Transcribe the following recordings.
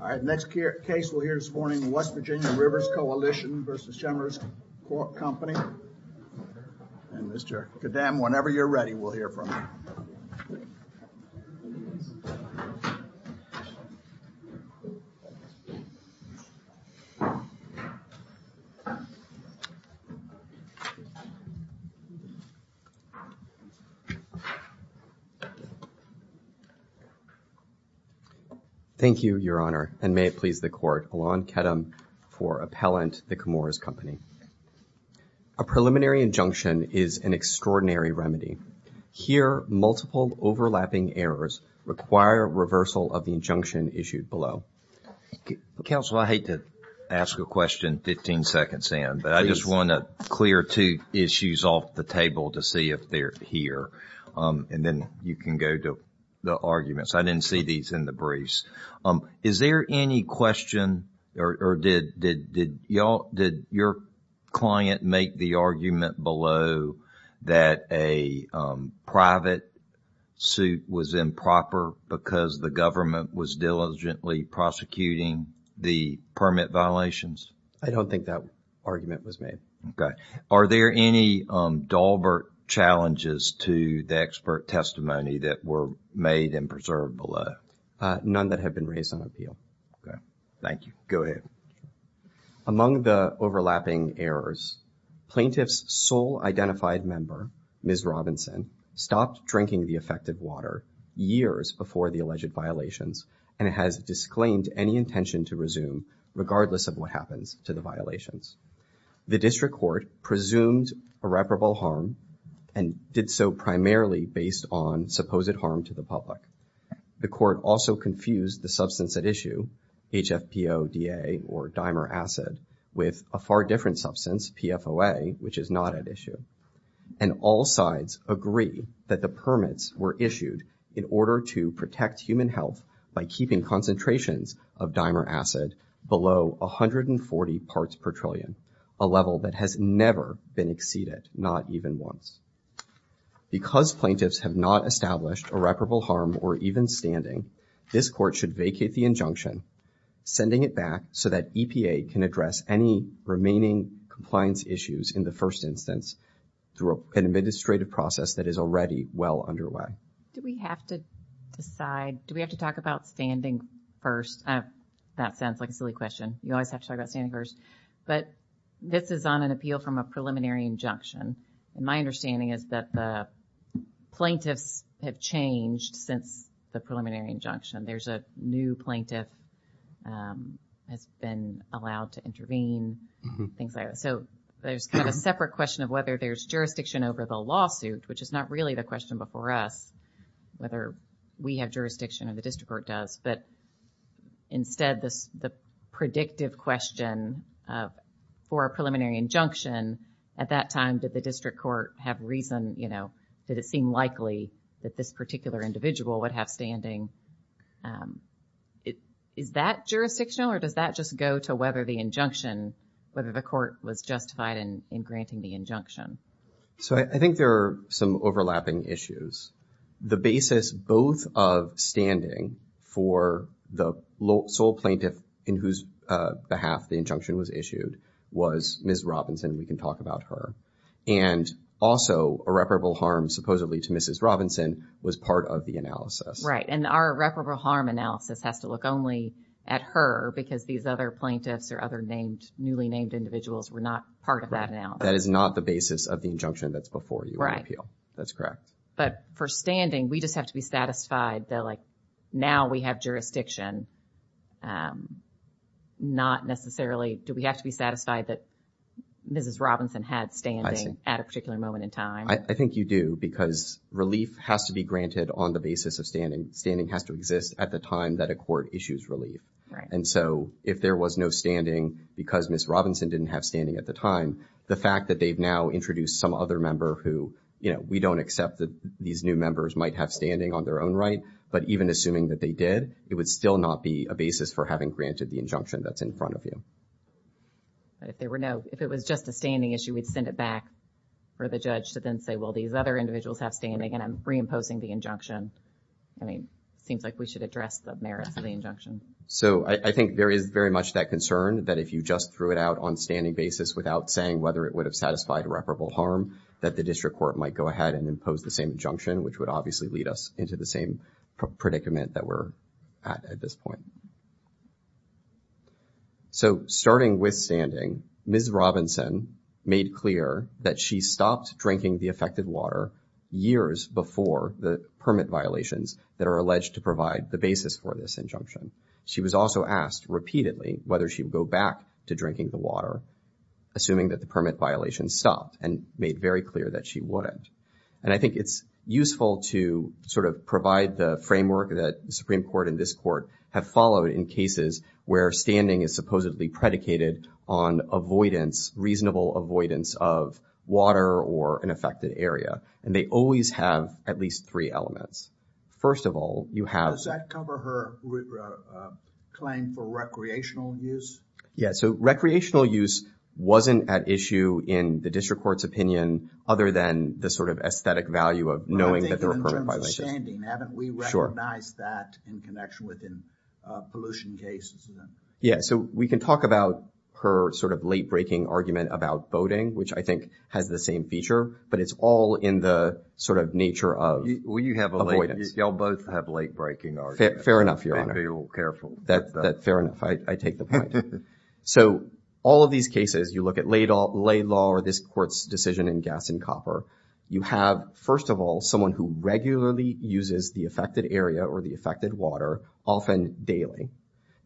All right, the next case we'll hear this morning is West Virginia Rivers Coalition v. Chemours Company. And Mr. Kadam, whenever you're ready, we'll hear from you. Thank you, Your Honor, and may it please the Court, Alon Kadam for Appellant v. The Chemours Company. A preliminary injunction is an extraordinary remedy. Here, multiple overlapping errors require reversal of the injunction issued below. Counsel, I hate to ask a question 15 seconds in, but I just want to clear two issues off the table to see if they're here. And then you can go to the arguments. I didn't see these in the briefs. Is there any question or did your client make the argument below that a private suit was improper because the government was diligently prosecuting the permit violations? I don't think that argument was made. Okay. Are there any Dahlberg challenges to the expert testimony that were made and preserved below? None that have been raised on appeal. Okay. Thank you. Go ahead. Among the overlapping errors, plaintiff's sole identified member, Ms. Robinson, stopped drinking the affected water years before the alleged violations and has disclaimed any intention to resume regardless of what happens to the violations. The district court presumed irreparable harm and did so primarily based on supposed harm to the public. The court also confused the substance at issue, HFPODA or dimer acid, with a far different substance, PFOA, which is not at issue. And all sides agree that the permits were issued in order to protect human health by keeping concentrations of dimer acid below 140 parts per trillion, a level that has never been exceeded, not even once. Because plaintiffs have not established irreparable harm or even standing, this court should vacate the injunction, sending it back so that EPA can address any remaining compliance issues in the first instance through an administrative process that is already well underway. Do we have to decide, do we have to talk about standing first? That sounds like a silly question. You always have to talk about standing first. But this is on an appeal from a preliminary injunction. And my understanding is that the plaintiffs have changed since the preliminary injunction. There's a new plaintiff, um, has been allowed to intervene, things like that. So there's kind of a separate question of whether there's jurisdiction over the lawsuit, which is not really the question before us, whether we have jurisdiction or the district court does. But instead, this, the predictive question of, for a preliminary injunction, at that time, did the district court have reason, you know, did it seem likely that this particular individual would have standing? Um, is that jurisdictional or does that just go to whether the injunction, whether the court was justified in, in granting the injunction? So I think there are some overlapping issues. The basis both of standing for the sole plaintiff in whose, uh, behalf the injunction was issued was Ms. Robinson. We can talk about her. And also irreparable harm supposedly to Mrs. Robinson was part of the analysis. Right. And our irreparable harm analysis has to look only at her because these other plaintiffs or other named, newly named individuals were not part of that analysis. That is not the basis of the injunction that's before you in the appeal. Right. That's correct. But for standing, we just have to be satisfied that like now we have jurisdiction, um, not necessarily, do we have to be satisfied that Mrs. Robinson had standing at a particular moment in time? I think you do because relief has to be granted on the basis of standing. Standing has to exist at the time that a court issues relief. Right. And so if there was no standing because Ms. Robinson didn't have standing at the time, the fact that they've now introduced some other member who, you know, we don't accept that these new members might have standing on their own right, but even assuming that they did, it would still not be a basis for having granted the injunction that's in front of you. But if there were no, if it was just a standing issue, we'd send it back for the judge to then say, well, these other individuals have standing and I'm reimposing the injunction. I mean, it seems like we should address the merits of the injunction. So I think there is very much that concern that if you just threw it out on standing basis without saying whether it would have satisfied reparable harm, that the district court might go ahead and impose the same injunction, which would obviously lead us into the same predicament that we're at at this point. So starting with standing, Ms. Robinson made clear that she stopped drinking the affected water years before the permit violations that are alleged to provide the basis for this injunction. She was also asked repeatedly whether she would go back to drinking the water, assuming that the permit violations stopped and made very clear that she wouldn't. And I think it's useful to sort of provide the framework that the Supreme Court and this court have followed in cases where standing is supposedly predicated on avoidance, reasonable avoidance of water or an affected area. And they always have at least three elements. First of all, you have... Does that cover her claim for recreational use? Yeah. So recreational use wasn't at issue in the district court's opinion other than the sort of aesthetic value of knowing that there were permit violations. But I think in terms of standing, haven't we recognized that in connection with pollution cases? Yeah. So we can talk about her sort of late-breaking argument about boating, which I think has the same feature, but it's all in the sort of nature of avoidance. Well, you have a late... Y'all both have late-breaking arguments. Fair enough, Your Honor. I may be a little careful. Fair enough. I take the point. So all of these cases, you look at lay law or this court's decision in gas and copper, you have, first of all, someone who regularly uses the affected area or the affected water often daily.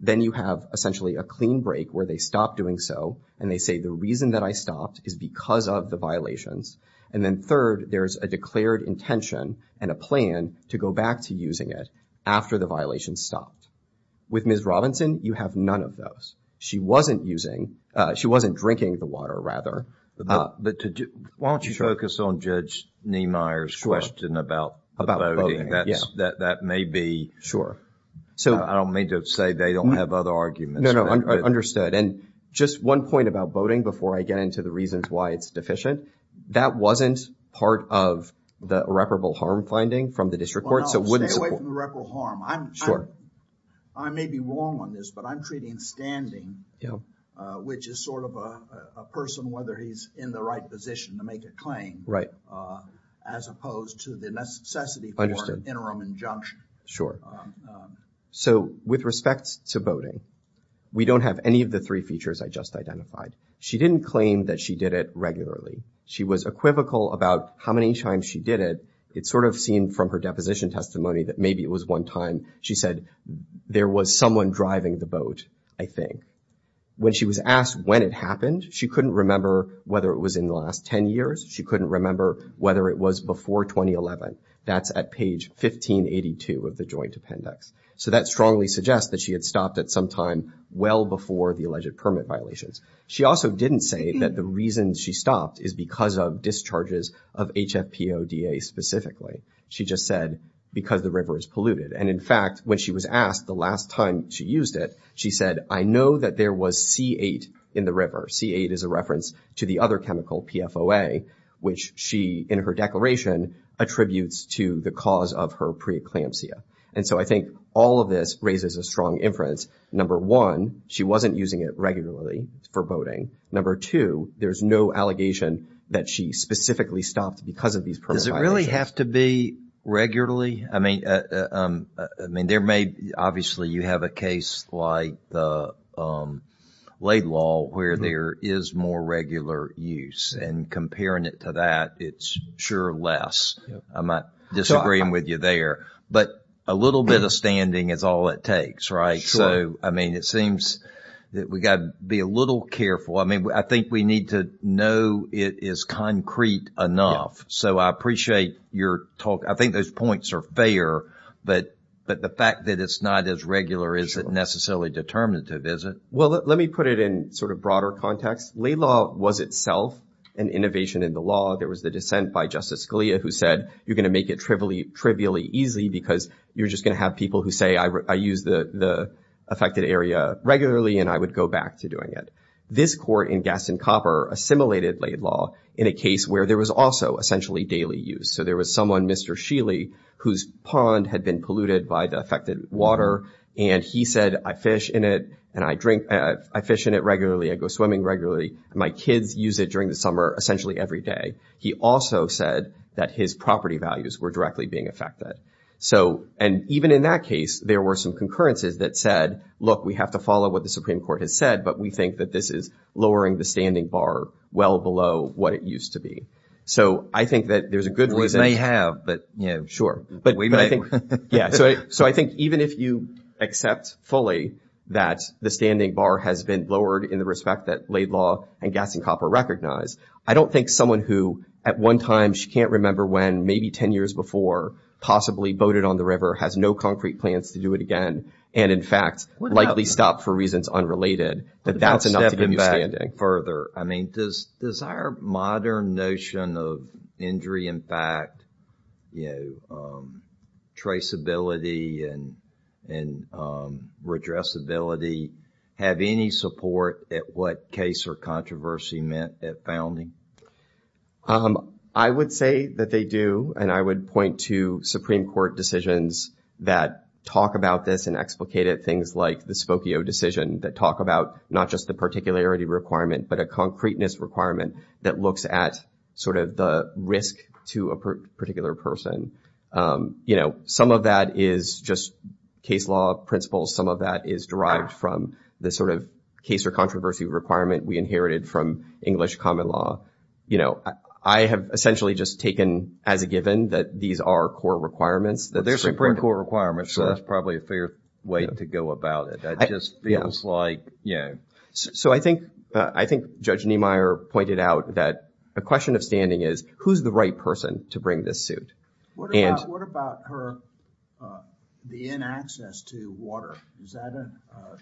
Then you have essentially a clean break where they stop doing so and they say, the reason that I stopped is because of the violations. And then third, there's a declared intention and a plan to go back to using it after the violation stopped. With Ms. Robinson, you have none of those. She wasn't using... She wasn't drinking the water, rather. But to... Why don't you focus on Judge Niemeyer's question about boating? That may be... Sure. I don't mean to say they don't have other arguments. No, no. Understood. And just one point about boating before I get into the reasons why it's deficient. That wasn't part of the irreparable harm finding from the district court. So it wouldn't... Stay away from irreparable harm. Sure. I may be wrong on this, but I'm treating standing, which is sort of a person, whether he's in the right position to make a claim, as opposed to the necessity for an interim injunction. Sure. So with respect to boating, we don't have any of the three features I just identified. She didn't claim that she did it regularly. She was equivocal about how many times she did it. It sort of seemed from her deposition testimony that maybe it was one time she said, there was someone driving the boat, I think. When she was asked when it happened, she couldn't remember whether it was in the last 10 years. She couldn't remember whether it was before 2011. That's at page 1582 of the joint appendix. So that strongly suggests that she had stopped at some time well before the alleged permit violations. She also didn't say that the reason she stopped is because of discharges of HFPODA specifically. She just said, because the river is polluted. And in fact, when she was asked the last time she used it, she said, I know that there was C8 in the river. C8 is a reference to the other chemical, PFOA, which she, in her declaration, attributes to the cause of her preeclampsia. And so I think all of this raises a strong inference. Number one, she wasn't using it regularly for boating. Number two, there's no allegation that she specifically stopped because of these permit violations. Does it really have to be regularly? I mean, there may, obviously, you have a case like the Laidlaw where there is more regular use and comparing it to that, it's sure less. I'm not disagreeing with you there. But a little bit of standing is all it takes, right? So, I mean, it seems that we got to be a little careful. I mean, I think we need to know it is concrete enough. So I appreciate your talk. I think those points are fair, but the fact that it's not as regular isn't necessarily determinative, is it? Well, let me put it in sort of broader context. Laidlaw was itself an innovation in the law. There was the dissent by Justice Scalia who said, you're going to make it trivially easy because you're just going to have people who say, I use the affected area regularly and I would go back to doing it. This court in Gaston Copper assimilated Laidlaw in a case where there was also essentially daily use. So there was someone, Mr. Sheely, whose pond had been polluted by the affected water and he said, I fish in it and I drink, I fish in it regularly, I go swimming regularly. My kids use it during the summer, essentially every day. He also said that his property values were directly being affected. So and even in that case, there were some concurrences that said, look, we have to follow what the Supreme Court has said, but we think that this is lowering the standing bar well below what it used to be. So I think that there's a good reason. Well, we may have, but, you know, we might. So I think even if you accept fully that the standing bar has been lowered in the respect that Laidlaw and Gaston Copper recognize, I don't think someone who at one time she can't remember when, maybe 10 years before, possibly boated on the river, has no concrete plans to do it again, and in fact, likely stopped for reasons unrelated, that that's enough to get you standing further. I mean, does our modern notion of injury impact, you know, traceability and redressability have any support at what case or controversy meant at founding? I would say that they do. And I would point to Supreme Court decisions that talk about this and explicate it, things like the Spokio decision that talk about not just the particularity requirement, but a concreteness requirement that looks at sort of the risk to a particular person. You know, some of that is just case law principles. Some of that is derived from the sort of case or controversy requirement we inherited from English common law. You know, I have essentially just taken as a given that these are core requirements that there's Supreme Court requirements, so that's probably a fair way to go about it. That just feels like, yeah. So I think Judge Niemeyer pointed out that a question of standing is, who's the right person to bring this suit? What about her, the inaccess to water, is that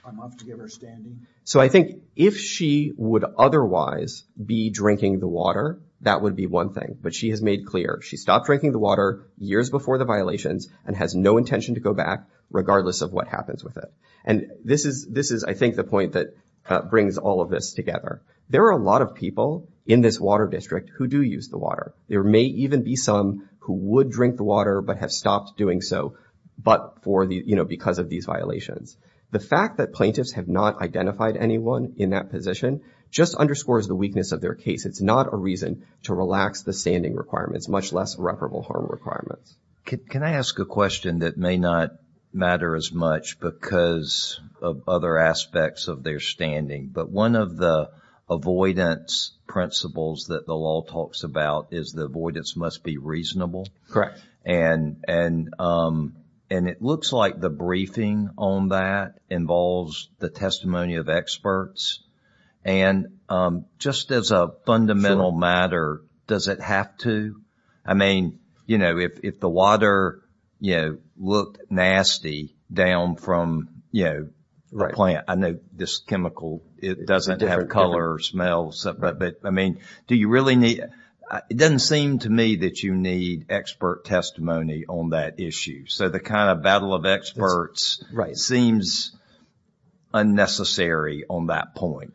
enough to give her standing? So I think if she would otherwise be drinking the water, that would be one thing. But she has made clear, she stopped drinking the water years before the violations and has no intention to go back, regardless of what happens with it. And this is, I think, the point that brings all of this together. There are a lot of people in this water district who do use the water. There may even be some who would drink the water but have stopped doing so, but because of these violations. The fact that plaintiffs have not identified anyone in that position just underscores the weakness of their case. It's not a reason to relax the standing requirements, much less reparable harm requirements. Can I ask a question that may not matter as much because of other aspects of their standing? But one of the avoidance principles that the law talks about is the avoidance must be reasonable. Correct. And it looks like the briefing on that involves the testimony of experts. And just as a fundamental matter, does it have to? I mean, you know, if the water, you know, looked nasty down from, you know, the plant, I know this chemical, it doesn't have color or smell, but, I mean, do you really need It doesn't seem to me that you need expert testimony on that issue. So the kind of battle of experts seems unnecessary on that point.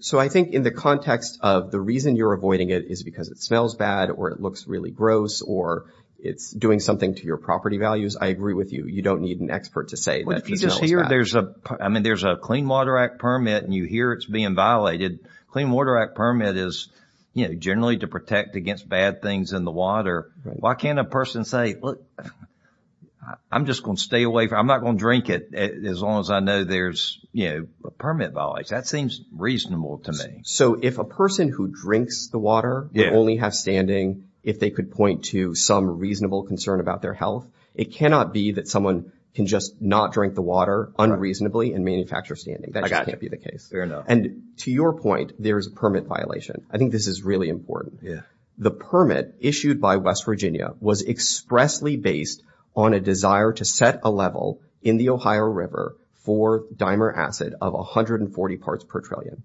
So I think in the context of the reason you're avoiding it is because it smells bad or it looks really gross or it's doing something to your property values, I agree with you. You don't need an expert to say that it smells bad. But if you just hear there's a, I mean, there's a Clean Water Act permit and you hear it's being violated, Clean Water Act permit is, you know, generally to protect against bad things in the water. Why can't a person say, look, I'm just going to stay away from, I'm not going to drink it as long as I know there's, you know, a permit violation. That seems reasonable to me. So if a person who drinks the water would only have standing if they could point to some reasonable concern about their health, it cannot be that someone can just not drink the water unreasonably and manufacture standing. That just can't be the case. Fair enough. And to your point, there is a permit violation. I think this is really important. The permit issued by West Virginia was expressly based on a desire to set a level in the Ohio River for dimer acid of 140 parts per trillion.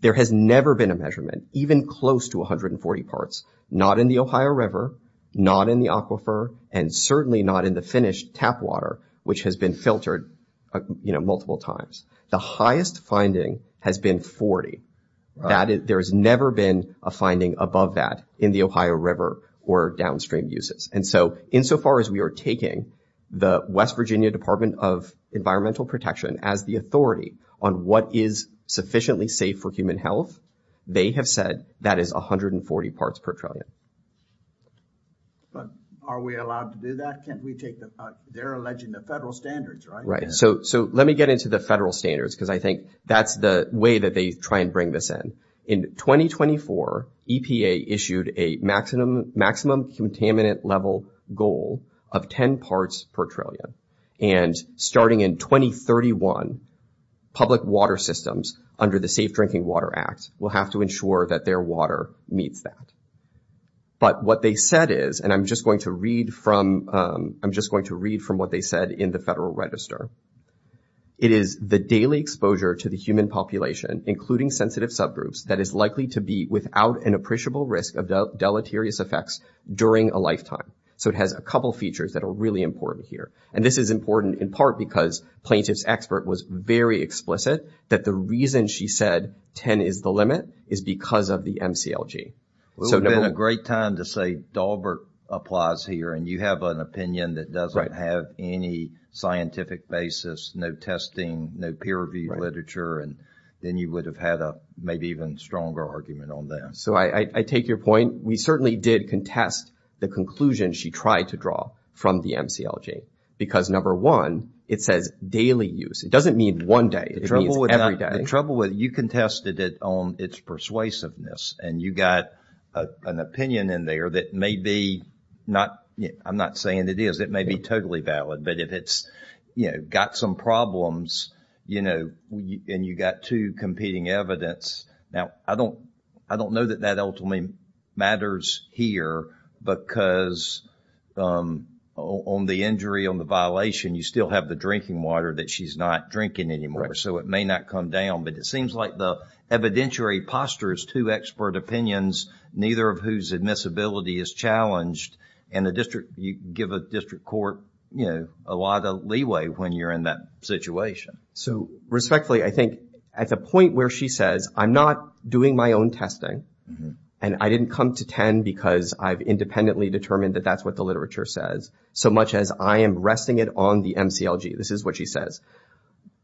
There has never been a measurement even close to 140 parts, not in the Ohio River, not in the aquifer, and certainly not in the finished tap water, which has been filtered, you know, multiple times. The highest finding has been 40. There has never been a finding above that in the Ohio River or downstream uses. And so insofar as we are taking the West Virginia Department of Environmental Protection as the authority on what is sufficiently safe for human health, they have said that is 140 parts per trillion. But are we allowed to do that? Can't we take the, they're alleging the federal standards, right? Right. So let me get into the federal standards because I think that's the way that they try and bring this in. In 2024, EPA issued a maximum contaminant level goal of 10 parts per trillion. And starting in 2031, public water systems under the Safe Drinking Water Act will have to ensure that their water meets that. But what they said is, and I'm just going to read from, I'm just going to read from what they said in the Federal Register. It is the daily exposure to the human population, including sensitive subgroups, that is likely to be without an appreciable risk of deleterious effects during a lifetime. So it has a couple features that are really important here. And this is important in part because plaintiff's expert was very explicit that the reason she said 10 is the limit is because of the MCLG. So number one. It would have been a great time to say Dahlberg applies here and you have an opinion that doesn't have any scientific basis, no testing, no peer review literature, and then you would have had a maybe even stronger argument on that. So I take your point. We certainly did contest the conclusion she tried to draw from the MCLG. Because number one, it says daily use. It doesn't mean one day. It means every day. The trouble with it, you contested it on its persuasiveness and you got an opinion in there that may be not, I'm not saying it is. It may be totally valid. But if it's, you know, got some problems, you know, and you got two competing evidence, now I don't know that that ultimately matters here because on the injury, on the violation, you still have the drinking water that she's not drinking anymore. So it may not come down. But it seems like the evidentiary posture is two expert opinions, neither of whose admissibility is challenged and the district, you give a district court, you know, a lot of leeway when you're in that situation. So respectfully, I think at the point where she says, I'm not doing my own testing and I didn't come to 10 because I've independently determined that that's what the literature says so much as I am resting it on the MCLG, this is what she says.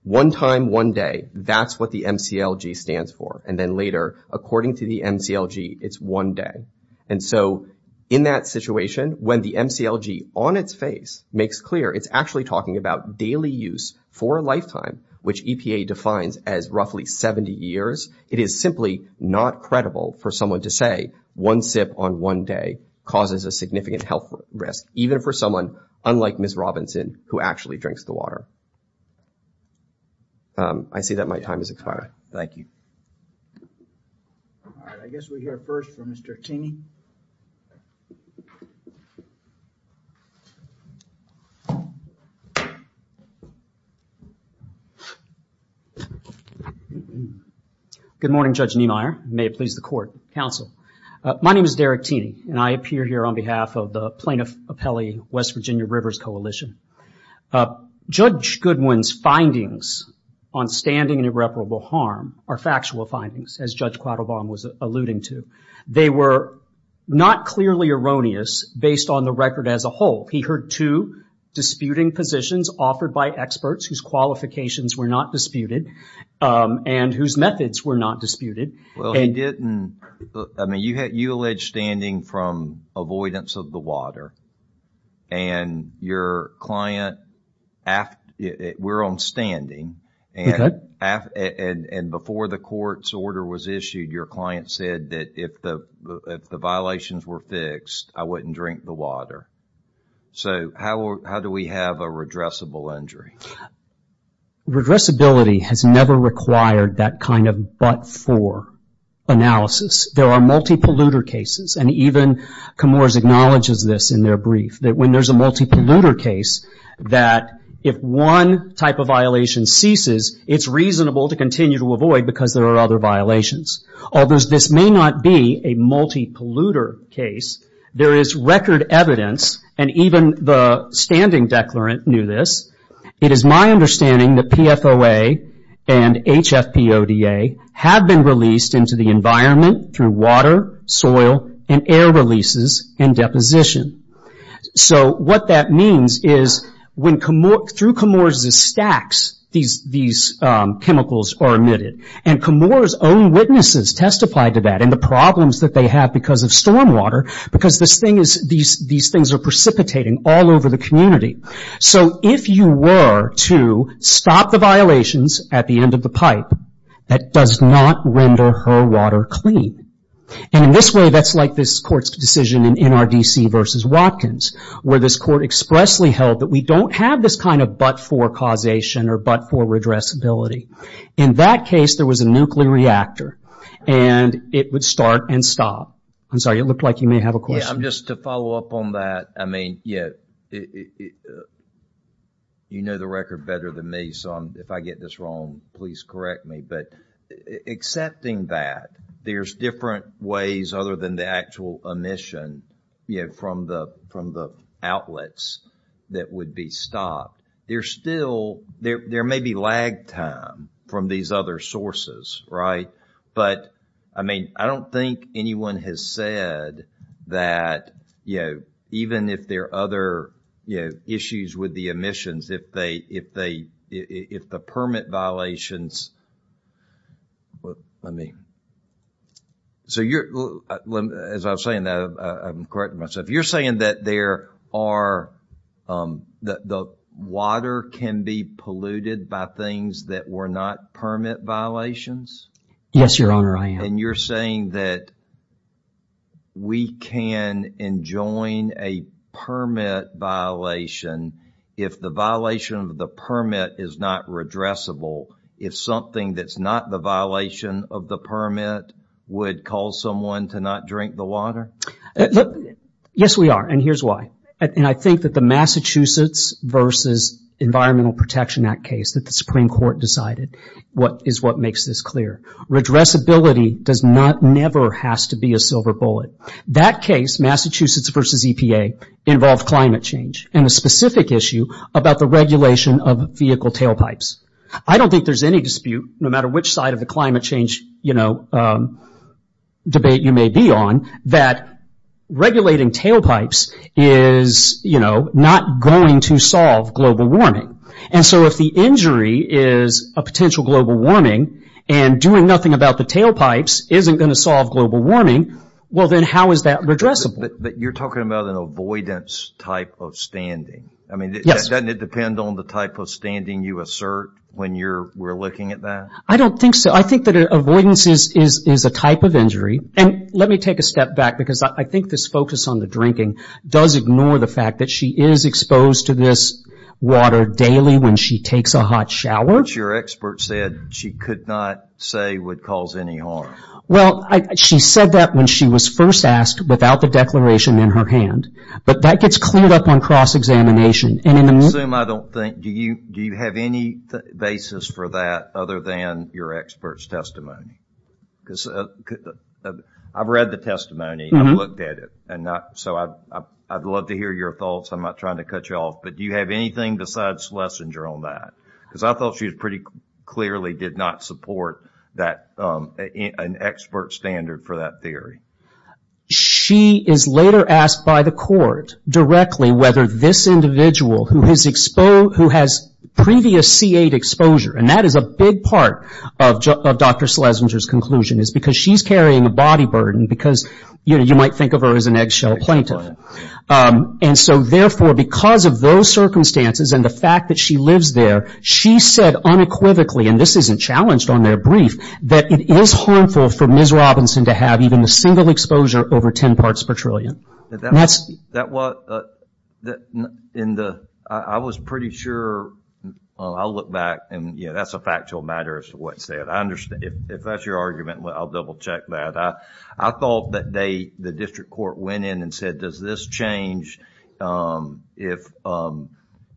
One time, one day, that's what the MCLG stands for. And then later, according to the MCLG, it's one day. And so in that situation, when the MCLG on its face makes clear it's actually talking about daily use for a lifetime, which EPA defines as roughly 70 years, it is simply not credible for someone to say one sip on one day causes a significant health risk, even for someone unlike Ms. Robinson, who actually drinks the water. I see that my time is expired. Thank you. All right. I guess we'll hear first from Mr. Tini. Good morning, Judge Niemeyer. May it please the court. Counsel. My name is Derek Tini and I appear here on behalf of the Plaintiff Appellee West Virginia Rivers Coalition. Judge Goodwin's findings on standing and irreparable harm are factual findings, as Judge Quattlebaum was alluding to. They were not clearly erroneous based on the record as a whole. He heard two disputing positions offered by experts whose qualifications were not disputed and whose methods were not disputed. Well, he didn't. I mean, you had, you alleged standing from avoidance of the water and your client, we're on standing and before the court's order was issued, your client said that if the violations were fixed, I wouldn't drink the water. So how do we have a redressable injury? Redressability has never required that kind of but-for analysis. There are multi-polluter cases and even Comores acknowledges this in their brief, that when there's a multi-polluter case, that if one type of violation ceases, it's reasonable to continue to avoid because there are other violations. Although this may not be a multi-polluter case, there is record evidence and even the standing declarant knew this. It is my understanding that PFOA and HFPODA have been released into the environment through water, soil, and air releases and deposition. What that means is through Comores' stacks, these chemicals are emitted and Comores' own witnesses testified to that and the problems that they have because of storm water because these things are precipitating all over the community. If you were to stop the violations at the end of the pipe, that does not render her water clean. In this way, that's like this court's decision in NRDC versus Watkins, where this court expressly held that we don't have this kind of but-for causation or but-for redressability. In that case, there was a nuclear reactor and it would start and stop. I'm sorry, it looked like you may have a question. Yeah, just to follow up on that, I mean, you know the record better than me, so if I get this wrong, please correct me, but accepting that there's different ways other than the actual emission from the outlets that would be stopped, there may be lag time from these other sources, right? But, I mean, I don't think anyone has said that, you know, even if there are other issues with the emissions, if the permit violations, let me, so you're, as I was saying, I'm correcting myself, you're saying that there are, that the water can be polluted by things that were not permit violations? Yes, Your Honor, I am. And you're saying that we can enjoin a permit violation if the violation of the permit is not redressable, if something that's not the violation of the permit would cause someone to not drink the water? Yes, we are, and here's why. And I think that the Massachusetts versus Environmental Protection Act case that the Supreme Court decided is what makes this clear. Redressability does not, never has to be a silver bullet. That case, Massachusetts versus EPA, involved climate change and a specific issue about the regulation of vehicle tailpipes. I don't think there's any dispute, no matter which side of the climate change, you know, debate you may be on, that regulating tailpipes is, you know, not going to solve global warming. And so if the injury is a potential global warming, and doing nothing about the tailpipes isn't going to solve global warming, well then how is that redressable? You're talking about an avoidance type of standing. Yes. Doesn't it depend on the type of standing you assert when you're looking at that? I don't think so. I think that avoidance is a type of injury, and let me take a step back because I think this focus on the drinking does ignore the fact that she is exposed to this water daily when she takes a hot shower. But your expert said she could not say would cause any harm. Well, she said that when she was first asked, without the declaration in her hand. But that gets cleared up on cross-examination, and in the... I assume I don't think... Do you have any basis for that, other than your expert's testimony? Because I've read the testimony, I've looked at it, and so I'd love to hear your thoughts. I'm not trying to cut you off, but do you have anything besides Schlesinger on that? Because I thought she pretty clearly did not support an expert standard for that theory. She is later asked by the court directly whether this individual who has previous C8 exposure, and that is a big part of Dr. Schlesinger's conclusion, is because she's carrying a body burden, because you might think of her as an eggshell plaintiff. And so therefore, because of those circumstances and the fact that she lives there, she said unequivocally, and this isn't challenged on their brief, that it is harmful for Ms. Robinson to have even a single exposure over 10 parts per trillion. That's... That was... That... In the... I was pretty sure... I'll look back, and, you know, that's a factual matter as to what's said. I understand. If that's your argument, I'll double-check that. I thought that they, the district court, went in and said, does this change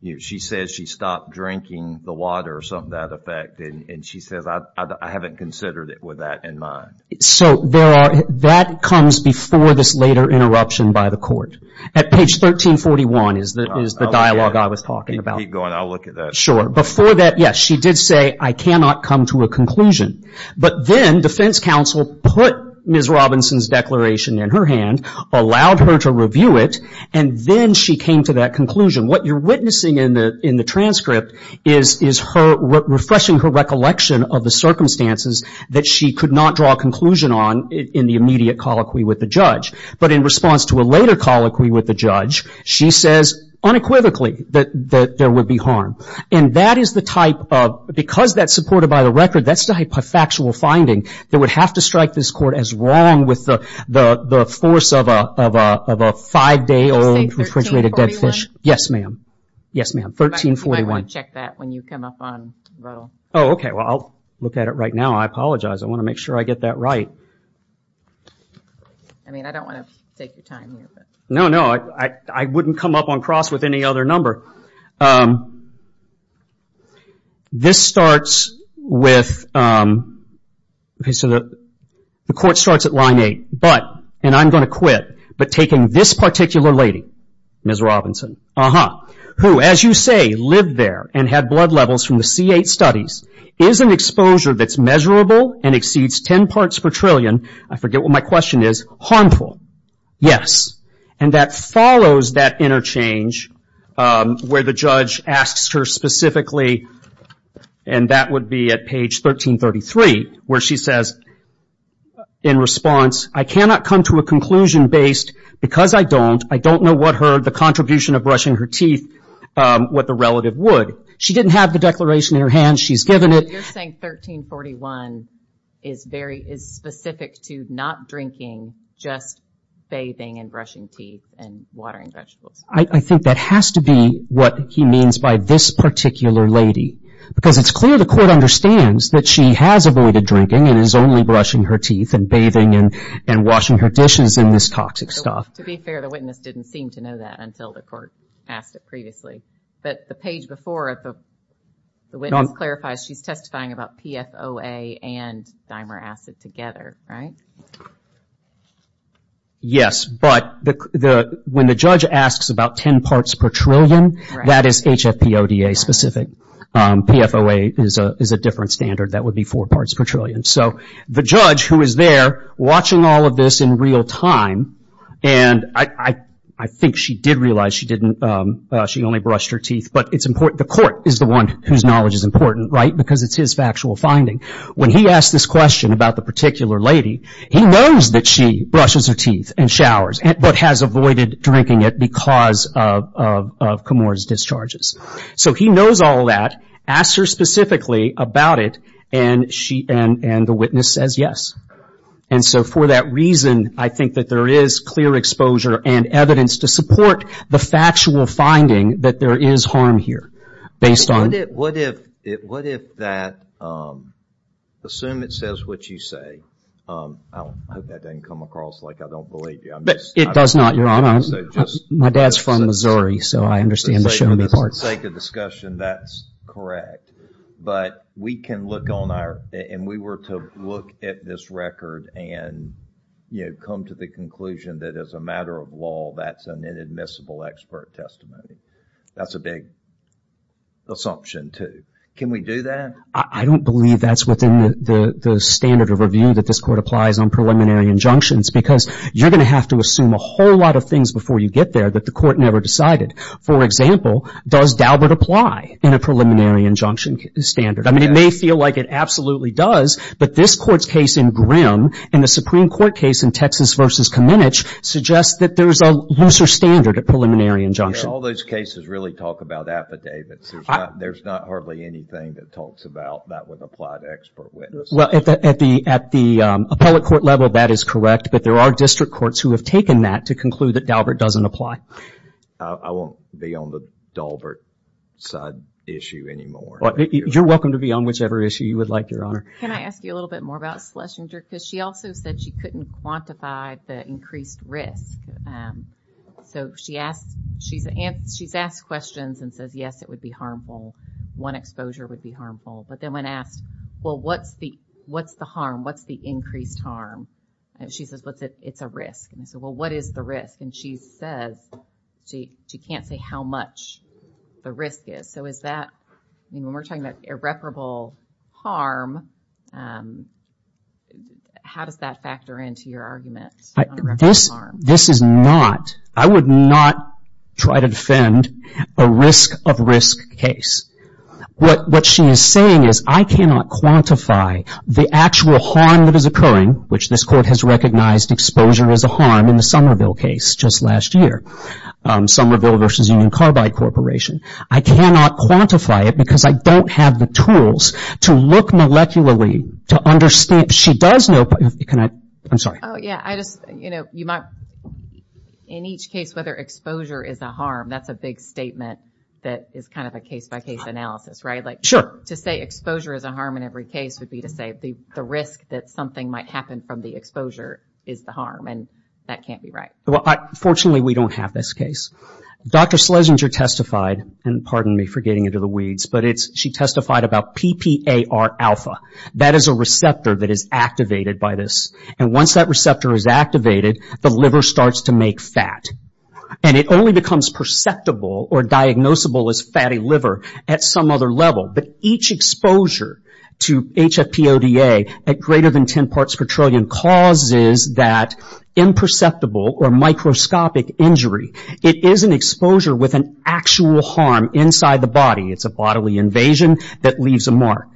if she says she stopped drinking the water, or something to that effect, and she says, I haven't considered it with that in mind. So, there are... That comes before this later interruption by the court, at page 1341, is the dialogue I was talking about. Keep going. I'll look at that. Sure. Before that, yes, she did say, I cannot come to a conclusion. But then, defense counsel put Ms. Robinson's declaration in her hand, allowed her to review it, and then she came to that conclusion. What you're witnessing in the transcript is her refreshing her recollection of the circumstances that she could not draw a conclusion on in the immediate colloquy with the judge. But in response to a later colloquy with the judge, she says, unequivocally, that there would be harm. And that is the type of... Because that's supported by the record, that's the type of factual finding that would have to strike this court as wrong with the force of a five-day old, refrigerated dead fish. Yes, ma'am. Yes, ma'am. 1341. You might want to check that when you come up on Roe. Oh, okay. Well, I'll look at it right now. I apologize. I want to make sure I get that right. I mean, I don't want to take your time here, but... No, no. I wouldn't come up on cross with any other number. This starts with... The court starts at line eight, but, and I'm going to quit, but taking this particular lady, Ms. Robinson, who, as you say, lived there and had blood levels from the C8 studies, is an exposure that's measurable and exceeds ten parts per trillion, I forget what my question is, harmful? Yes. And that follows that interchange where the judge asks her specifically, and that would be at page 1333, where she says, in response, I cannot come to a conclusion based, because I don't, I don't know what her, the contribution of brushing her teeth, what the relative would. She didn't have the declaration in her hand. She's given it. You're saying 1341 is very, is specific to not drinking, just bathing and brushing teeth and watering vegetables. I think that has to be what he means by this particular lady, because it's clear the court understands that she has avoided drinking and is only brushing her teeth and bathing and washing her dishes in this toxic stuff. To be fair, the witness didn't seem to know that until the court asked it previously, but the page before it, the witness clarifies she's testifying about PFOA and dimer acid together, right? Yes, but when the judge asks about ten parts per trillion, that is HFPODA specific. PFOA is a different standard. That would be four parts per trillion. The judge, who is there, watching all of this in real time, and I think she did realize she only brushed her teeth, but it's important. The court is the one whose knowledge is important, right? Because it's his factual finding. When he asked this question about the particular lady, he knows that she brushes her teeth and showers, but has avoided drinking it because of Camorra's discharges. He knows all that, asks her specifically about it, and the witness says yes. So for that reason, I think that there is clear exposure and evidence to support the factual finding that there is harm here, based on... What if that, assume it says what you say, I hope that didn't come across like I don't believe you. It does not, Your Honor. My dad's from Missouri, so I understand the show me part. For the sake of discussion, that's correct, but we can look on our... We were to look at this record and come to the conclusion that as a matter of law, that's an inadmissible expert testimony. That's a big assumption, too. Can we do that? I don't believe that's within the standard of review that this court applies on preliminary injunctions because you're going to have to assume a whole lot of things before you get there that the court never decided. For example, does Daubert apply in a preliminary injunction standard? It may feel like it absolutely does, but this court's case in Grimm and the Supreme Court case in Texas v. Kamenich suggest that there's a looser standard of preliminary injunction. All those cases really talk about affidavits. There's not hardly anything that talks about that would apply to expert witness. At the appellate court level, that is correct, but there are district courts who have taken that to conclude that Daubert doesn't apply. I won't be on the Daubert side issue anymore. You're welcome to be on whichever issue you would like, Your Honor. Can I ask you a little bit more about Schlesinger? She also said she couldn't quantify the increased risk. She's asked questions and says, yes, it would be harmful. One exposure would be harmful, but then when asked, well, what's the harm? What's the increased harm? She says, it's a risk. I said, well, what is the risk? She says she can't say how much the risk is. When we're talking about irreparable harm, how does that factor into your argument? This is not, I would not try to defend a risk of risk case. What she is saying is, I cannot quantify the actual harm that is occurring, which this court has recognized exposure as a harm in the Somerville case just last year, Somerville versus Union Carbide Corporation. I cannot quantify it because I don't have the tools to look molecularly to understand. She does know, can I, I'm sorry. Oh, yeah. I just, you know, you might, in each case, whether exposure is a harm, that's a big statement that is kind of a case-by-case analysis, right? Sure. To say exposure is a harm in every case would be to say the risk that something might happen from the exposure is the harm, and that can't be right. Fortunately, we don't have this case. Dr. Schlesinger testified, and pardon me for getting into the weeds, but she testified about PPAR-alpha. That is a receptor that is activated by this, and once that receptor is activated, the liver starts to make fat. It only becomes perceptible or diagnosable as fatty liver at some other level, but each exposure to HFP-ODA at greater than 10 parts per trillion causes that imperceptible or microscopic injury. It is an exposure with an actual harm inside the body. It's a bodily invasion that leaves a mark.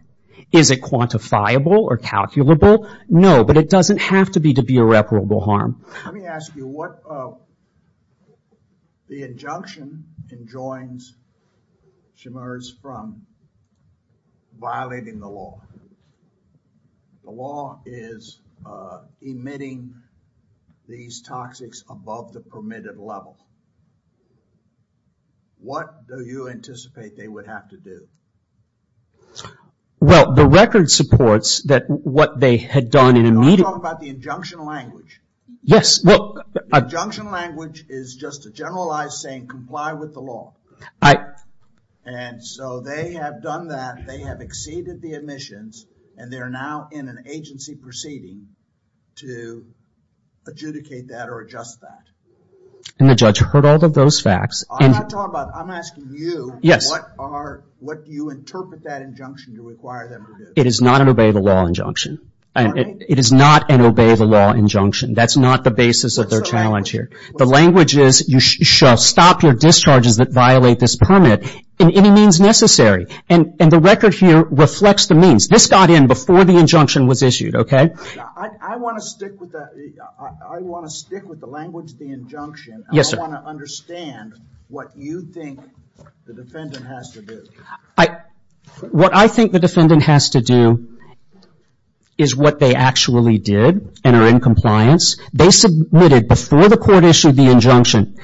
Is it quantifiable or calculable? No, but it doesn't have to be to be irreparable harm. Let me ask you, what, the injunction enjoins Schmerz from violating the law. The law is emitting these toxics above the permitted level. What do you anticipate they would have to do? Well, the record supports that what they had done in a meeting... No, I'm talking about the injunction language. Yes, well... The injunction language is just a generalized saying, comply with the law, and so they have done that, they have exceeded the admissions, and they're now in an agency proceeding to adjudicate that or adjust that. And the judge heard all of those facts. I'm not talking about... I'm asking you... Yes. What are... What do you interpret that injunction to require them to do? It is not an obey the law injunction. It is not an obey the law injunction. That's not the basis of their challenge here. The language is, you shall stop your discharges that violate this permit in any means necessary, and the record here reflects the means. This got in before the injunction was issued, okay? I want to stick with the language of the injunction. Yes, sir. I want to understand what you think the defendant has to do. What I think the defendant has to do is what they actually did and are in compliance. They submitted before the court issued the injunction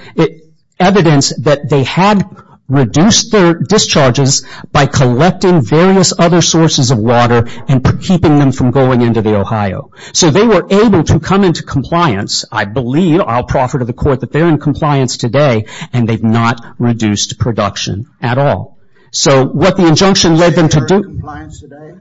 evidence that they had reduced their discharges by collecting various other sources of water and keeping them from going into the Ohio. So they were able to come into compliance. I believe, I'll proffer to the court that they're in compliance today, and they've not reduced production at all. So what the injunction led them to do... Are they in compliance today?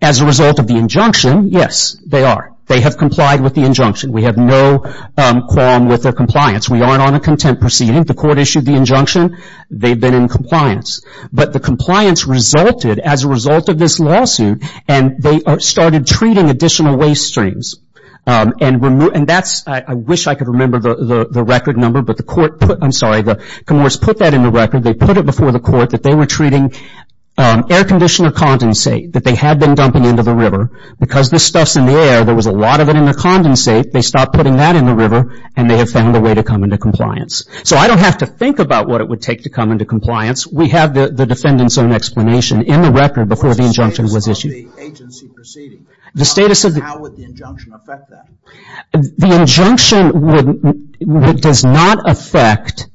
As a result of the injunction, yes, they are. They have complied with the injunction. We have no qualm with their compliance. We aren't on a content proceeding. The court issued the injunction. They've been in compliance. But the compliance resulted as a result of this lawsuit, and they started treating additional waste streams, and that's... I wish I could remember the record number, but the court put... I'm sorry. The Comoros put that in the record. They put it before the court that they were treating air conditioner condensate that they had been dumping into the river. Because this stuff's in the air, there was a lot of it in the condensate. They stopped putting that in the river, and they have found a way to come into compliance. So I don't have to think about what it would take to come into compliance. We have the defendant's own explanation in the record before the injunction was issued. What's the status of the agency proceeding? The status of the... How would the injunction affect that? The injunction does not affect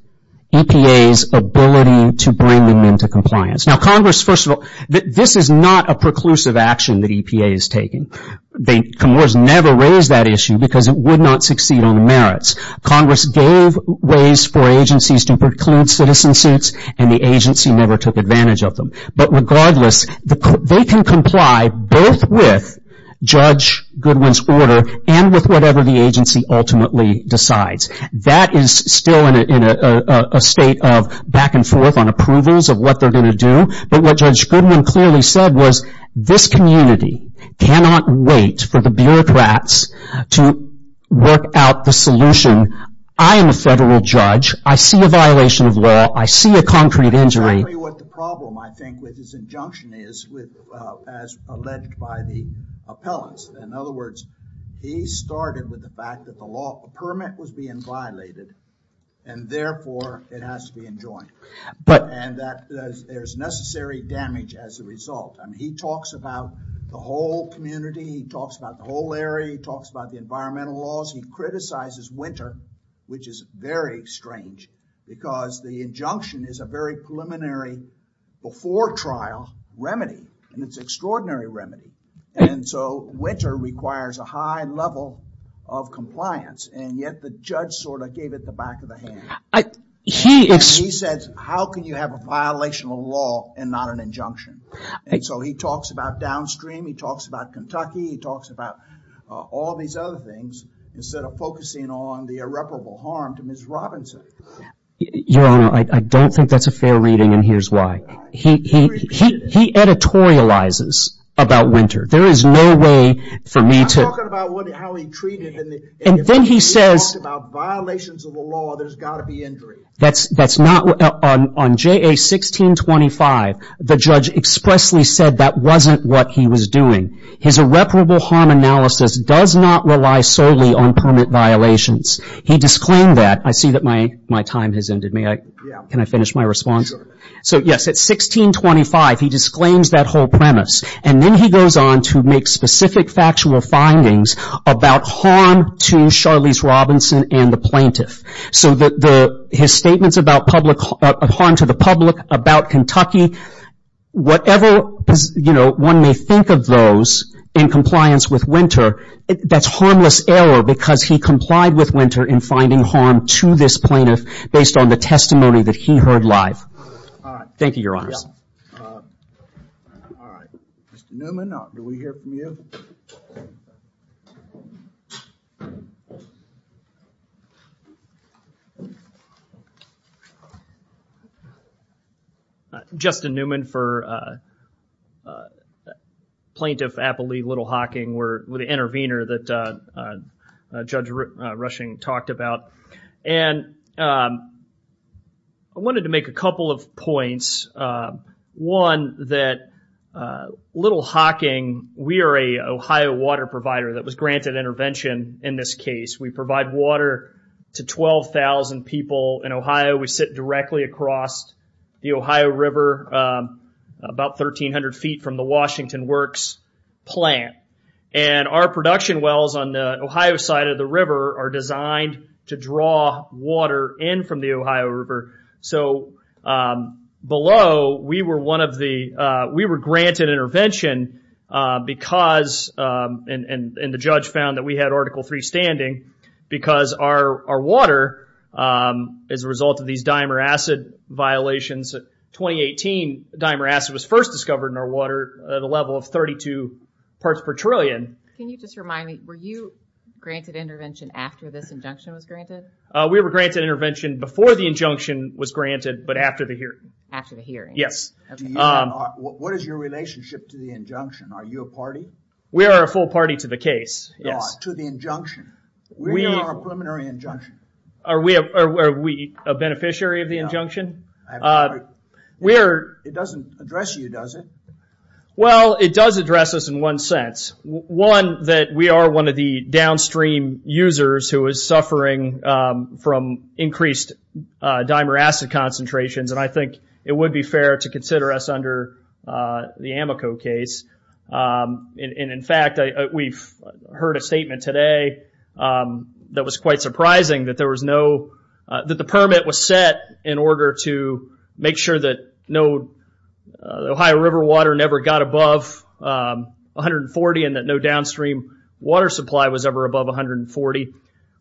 EPA's ability to bring them into compliance. Now Congress, first of all, this is not a preclusive action that EPA is taking. Comoros never raised that issue because it would not succeed on the merits. Congress gave ways for agencies to preclude citizen suits, and the agency never took advantage of them. But regardless, they can comply both with Judge Goodwin's order and with whatever the agency ultimately decides. That is still in a state of back and forth on approvals of what they're going to do. But what Judge Goodwin clearly said was, this community cannot wait for the bureaucrats to work out the solution. I am a federal judge. I see a violation of law. I see a concrete injury. That's exactly what the problem, I think, with this injunction is, as alleged by the appellants. In other words, he started with the fact that the law permit was being violated, and therefore it has to be enjoined, and that there's necessary damage as a result. And he talks about the whole community, he talks about the whole area, he talks about the environmental laws, he criticizes Winter, which is very strange, because the injunction is a very preliminary before trial remedy, and it's an extraordinary remedy. And so Winter requires a high level of compliance, and yet the judge sort of gave it the back of the hand. He said, how can you have a violation of law and not an injunction? And so he talks about downstream, he talks about Kentucky, he talks about all these other things, instead of focusing on the irreparable harm to Ms. Robinson. Your Honor, I don't think that's a fair reading, and here's why. He editorializes about Winter. There is no way for me to- I'm talking about how he treated- And then he says- If he talks about violations of the law, there's got to be injury. On JA 1625, the judge expressly said that wasn't what he was doing. His irreparable harm analysis does not rely solely on permit violations. He disclaimed that. I see that my time has ended. Can I finish my response? So yes, at 1625, he disclaims that whole premise, and then he goes on to make specific factual findings about harm to Charlize Robinson and the plaintiff. So his statements about harm to the public, about Kentucky, whatever one may think of those in compliance with Winter, that's harmless error because he complied with Winter in finding harm to this plaintiff based on the testimony that he heard live. Thank you, Your Honors. All right. Mr. Newman, do we hear from you? Justin Newman for Plaintiff Applee Little Hocking. We're the intervener that Judge Rushing talked about, and I wanted to make a couple of points. One, that Little Hocking, we are a Ohio water provider that was granted intervention in this case. We provide water to 12,000 people in Ohio. We sit directly across the Ohio River, about 1,300 feet from the Washington Works plant. And our production wells on the Ohio side of the river are designed to draw water in from the Ohio River. So below, we were granted intervention because, and the judge found that we had Article III standing because our water, as a result of these dimer acid violations, 2018 dimer acid was first discovered in our water at a level of 32 parts per trillion. Can you just remind me, were you granted intervention after this injunction was granted? We were granted intervention before the injunction was granted, but after the hearing. After the hearing. Yes. What is your relationship to the injunction? Are you a party? We are a full party to the case, yes. To the injunction. We are a preliminary injunction. Are we a beneficiary of the injunction? No. It doesn't address you, does it? Well, it does address us in one sense. One, that we are one of the downstream users who is suffering from increased dimer acid concentrations. And I think it would be fair to consider us under the Amoco case. And in fact, we've heard a statement today that was quite surprising that there was no, that the permit was set in order to make sure that no Ohio River water never got above 140 and that no downstream water supply was ever above 140.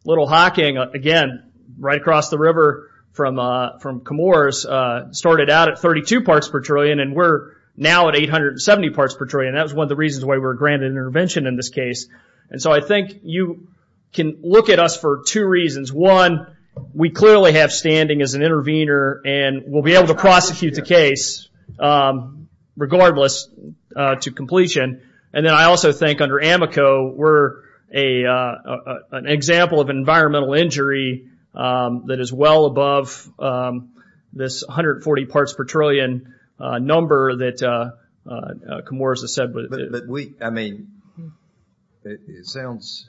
Little Hocking, again, right across the river from Chemours, started out at 32 parts per trillion and we're now at 870 parts per trillion. That was one of the reasons why we were granted intervention in this case. And so I think you can look at us for two reasons. One, we clearly have standing as an intervener and we'll be able to prosecute the case regardless to completion. And then I also think under Amoco, we're an example of environmental injury that is well above this 140 parts per trillion number that Chemours has said. But we, I mean, it sounds,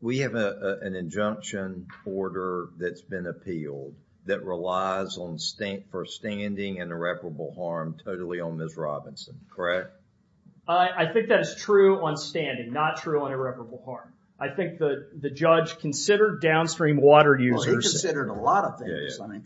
we have an injunction order that's been appealed that relies for standing and irreparable harm totally on Ms. Robinson, correct? I think that is true on standing, not true on irreparable harm. I think the judge considered downstream water users... Well, he considered a lot of things. I mean,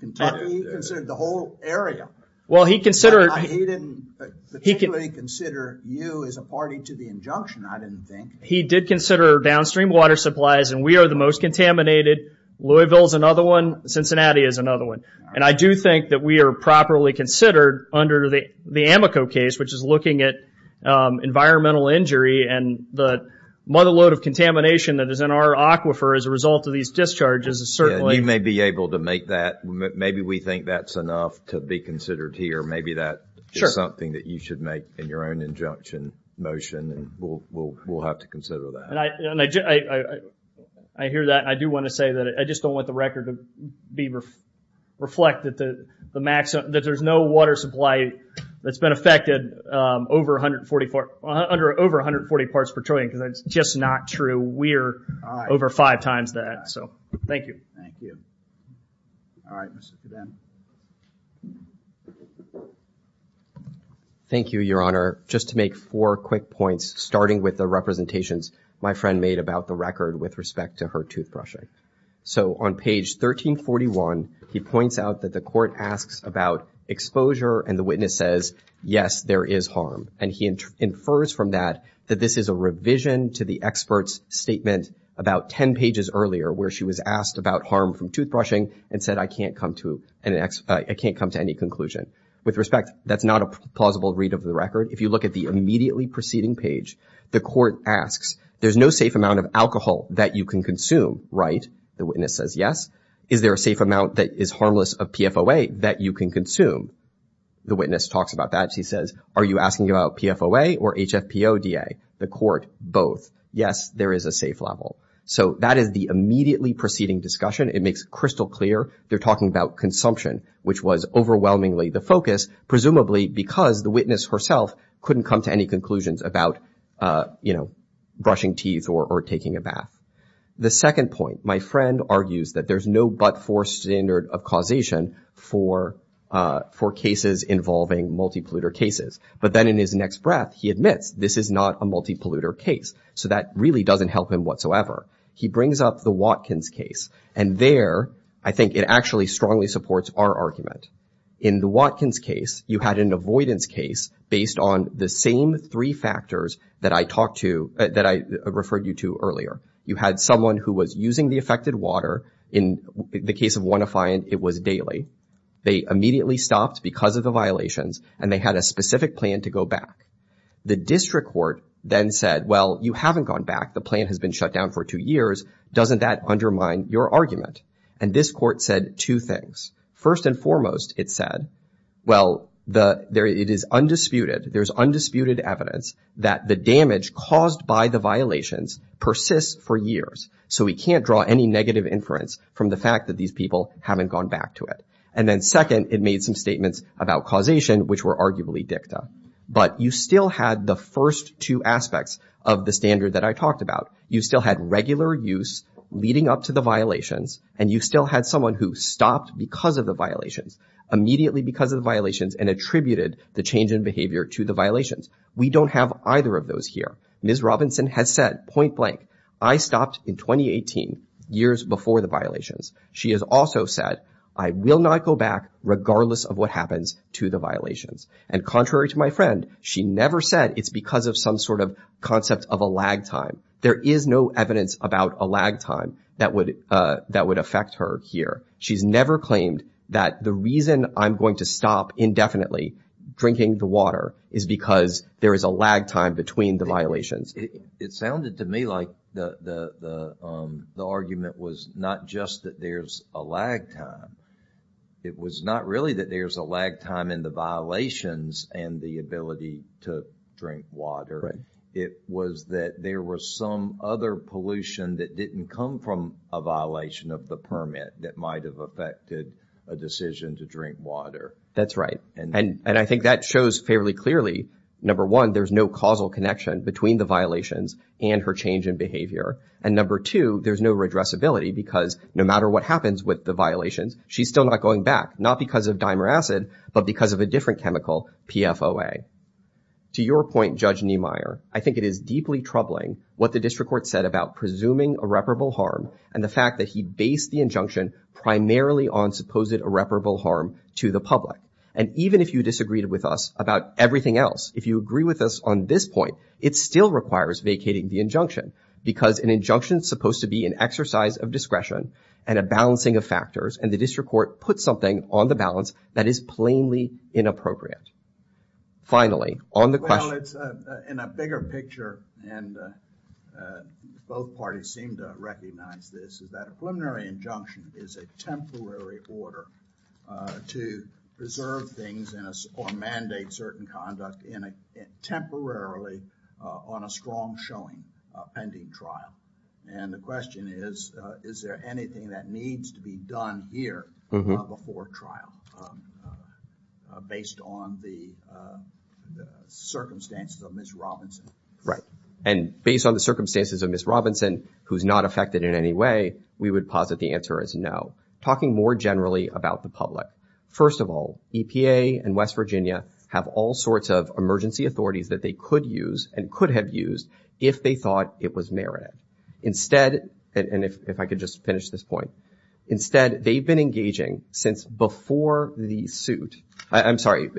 he considered the whole area. Well, he considered... He didn't particularly consider you as a party to the injunction, I didn't think. He did consider downstream water supplies and we are the most contaminated. Louisville is another one. Cincinnati is another one. And I do think that we are properly considered under the Amoco case, which is looking at environmental injury and the mother load of contamination that is in our aquifer as a result of these discharges is certainly... Maybe we think that's enough to be considered here. Maybe that is something that you should make in your own injunction motion. We'll have to consider that. I hear that. I do want to say that I just don't want the record to reflect that there's no water supply that's been affected over 140 parts per trillion because that's just not true. We're over five times that. So, thank you. Thank you. All right. Thank you, Your Honor. Just to make four quick points, starting with the representations my friend made about the record with respect to her toothbrushing. So, on page 1341, he points out that the court asks about exposure and the witness says, yes, there is harm. And he infers from that that this is a revision to the expert's statement about ten pages earlier where she was asked about harm from toothbrushing and said, I can't come to any conclusion. With respect, that's not a plausible read of the record. If you look at the immediately preceding page, the court asks, there's no safe amount of alcohol that you can consume, right? The witness says, yes. Is there a safe amount that is harmless of PFOA that you can consume? The witness talks about that. She says, are you asking about PFOA or HFPODA? The court, both. Yes, there is a safe level. So that is the immediately preceding discussion. It makes crystal clear they're talking about consumption, which was overwhelmingly the focus, presumably because the witness herself couldn't come to any conclusions about, you know, brushing teeth or taking a bath. The second point, my friend argues that there's no but-for standard of causation for cases involving multi-polluter cases. But then in his next breath, he admits this is not a multi-polluter case. So that really doesn't help him whatsoever. He brings up the Watkins case. And there, I think it actually strongly supports our argument. In the Watkins case, you had an avoidance case based on the same three factors that I talked to, that I referred you to earlier. You had someone who was using the affected water. In the case of one affiant, it was daily. They immediately stopped because of the violations, and they had a specific plan to go back. The district court then said, well, you haven't gone back. The plan has been shut down for two years. Doesn't that undermine your argument? And this court said two things. First and foremost, it said, well, it is undisputed, there's undisputed evidence that the damage caused by the violations persists for years. So we can't draw any negative inference from the fact that these people haven't gone back to it. And then second, it made some statements about causation, which were arguably dicta. But you still had the first two aspects of the standard that I talked about. You still had regular use leading up to the violations, and you still had someone who stopped because of the violations, immediately because of the violations, and attributed the change in behavior to the violations. We don't have either of those here. Ms. Robinson has said point blank, I stopped in 2018, years before the violations. She has also said, I will not go back regardless of what happens to the violations. And contrary to my friend, she never said it's because of some sort of concept of a lag time. There is no evidence about a lag time that would affect her here. She's never claimed that the reason I'm going to stop indefinitely drinking the water is because there is a lag time between the violations. It sounded to me like the argument was not just that there's a lag time. It was not really that there's a lag time in the violations and the ability to drink water. It was that there was some other pollution that didn't come from a violation of the permit that might have affected a decision to drink water. That's right. And I think that shows fairly clearly, number one, there's no causal connection between the violations and her change in behavior. And number two, there's no addressability because no matter what happens with the violations, she's still not going back. Not because of dimer acid, but because of a different chemical, PFOA. To your point, Judge Niemeyer, I think it is deeply troubling what the district court said about presuming irreparable harm and the fact that he based the injunction primarily on supposed irreparable harm to the public. And even if you disagreed with us about everything else, if you agree with us on this point, it still requires vacating the injunction. Because an injunction is supposed to be an exercise of discretion and a balancing of factors. And the district court put something on the balance that is plainly inappropriate. Finally, on the question. In a bigger picture, and both parties seem to recognize this, is that a preliminary injunction is a temporary order to preserve things or mandate certain conduct temporarily on a strong showing pending trial. And the question is, is there anything that needs to be done here before trial based on the circumstances of Ms. Robinson? And based on the circumstances of Ms. Robinson, who's not affected in any way, we would posit the answer is no. Talking more generally about the public. First of all, EPA and West Virginia have all sorts of emergency authorities that they could use and could have used if they thought it was merited. Instead, and if I could just finish this point. Instead, they've been engaging since before the suit. I'm sorry.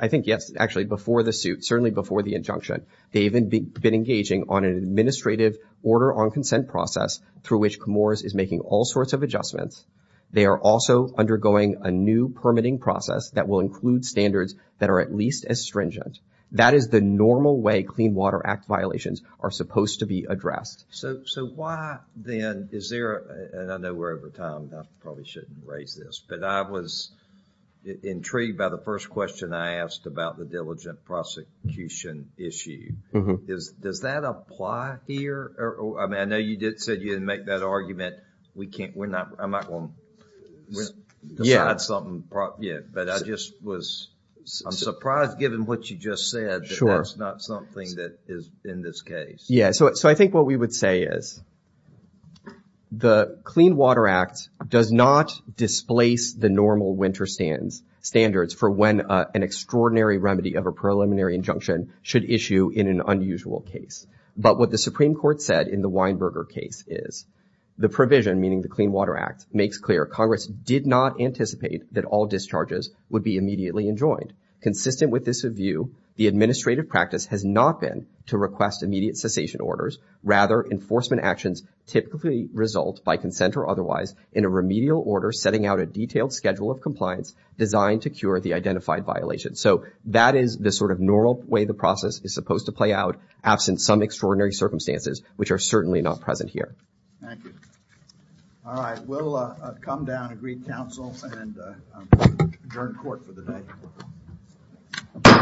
I think yes, actually, before the suit, certainly before the injunction. They've been engaging on an administrative order on consent process through which Comores is making all sorts of adjustments. They are also undergoing a new permitting process that will include standards that are at least as stringent. That is the normal way Clean Water Act violations are supposed to be addressed. So, so why then is there, and I know we're over time, I probably shouldn't raise this, but I was intrigued by the first question I asked about the diligent prosecution issue. Does that apply here? I mean, I know you did say you didn't make that argument. We can't, we're not, I'm not going to decide something. Yeah, but I just was, I'm surprised given what you just said that that's not something that is in this case. Yeah, so I think what we would say is the Clean Water Act does not displace the normal winter standards for when an extraordinary remedy of a preliminary injunction should issue in an unusual case. But what the Supreme Court said in the Weinberger case is, the provision, meaning the Clean Water Act, makes clear Congress did not anticipate that all discharges would be immediately enjoined. Consistent with this view, the administrative practice has not been to request immediate cessation orders. Rather, enforcement actions typically result by consent or otherwise in a remedial order setting out a detailed schedule of compliance designed to cure the identified violation. So that is the sort of normal way the process is supposed to play out, absent some extraordinary circumstances, which are certainly not present here. Thank you. All right, we'll come down to greet counsel and adjourn court for the day.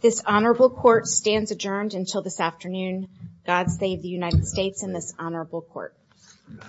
This honorable court stands adjourned until this afternoon. God save the United States and this honorable court.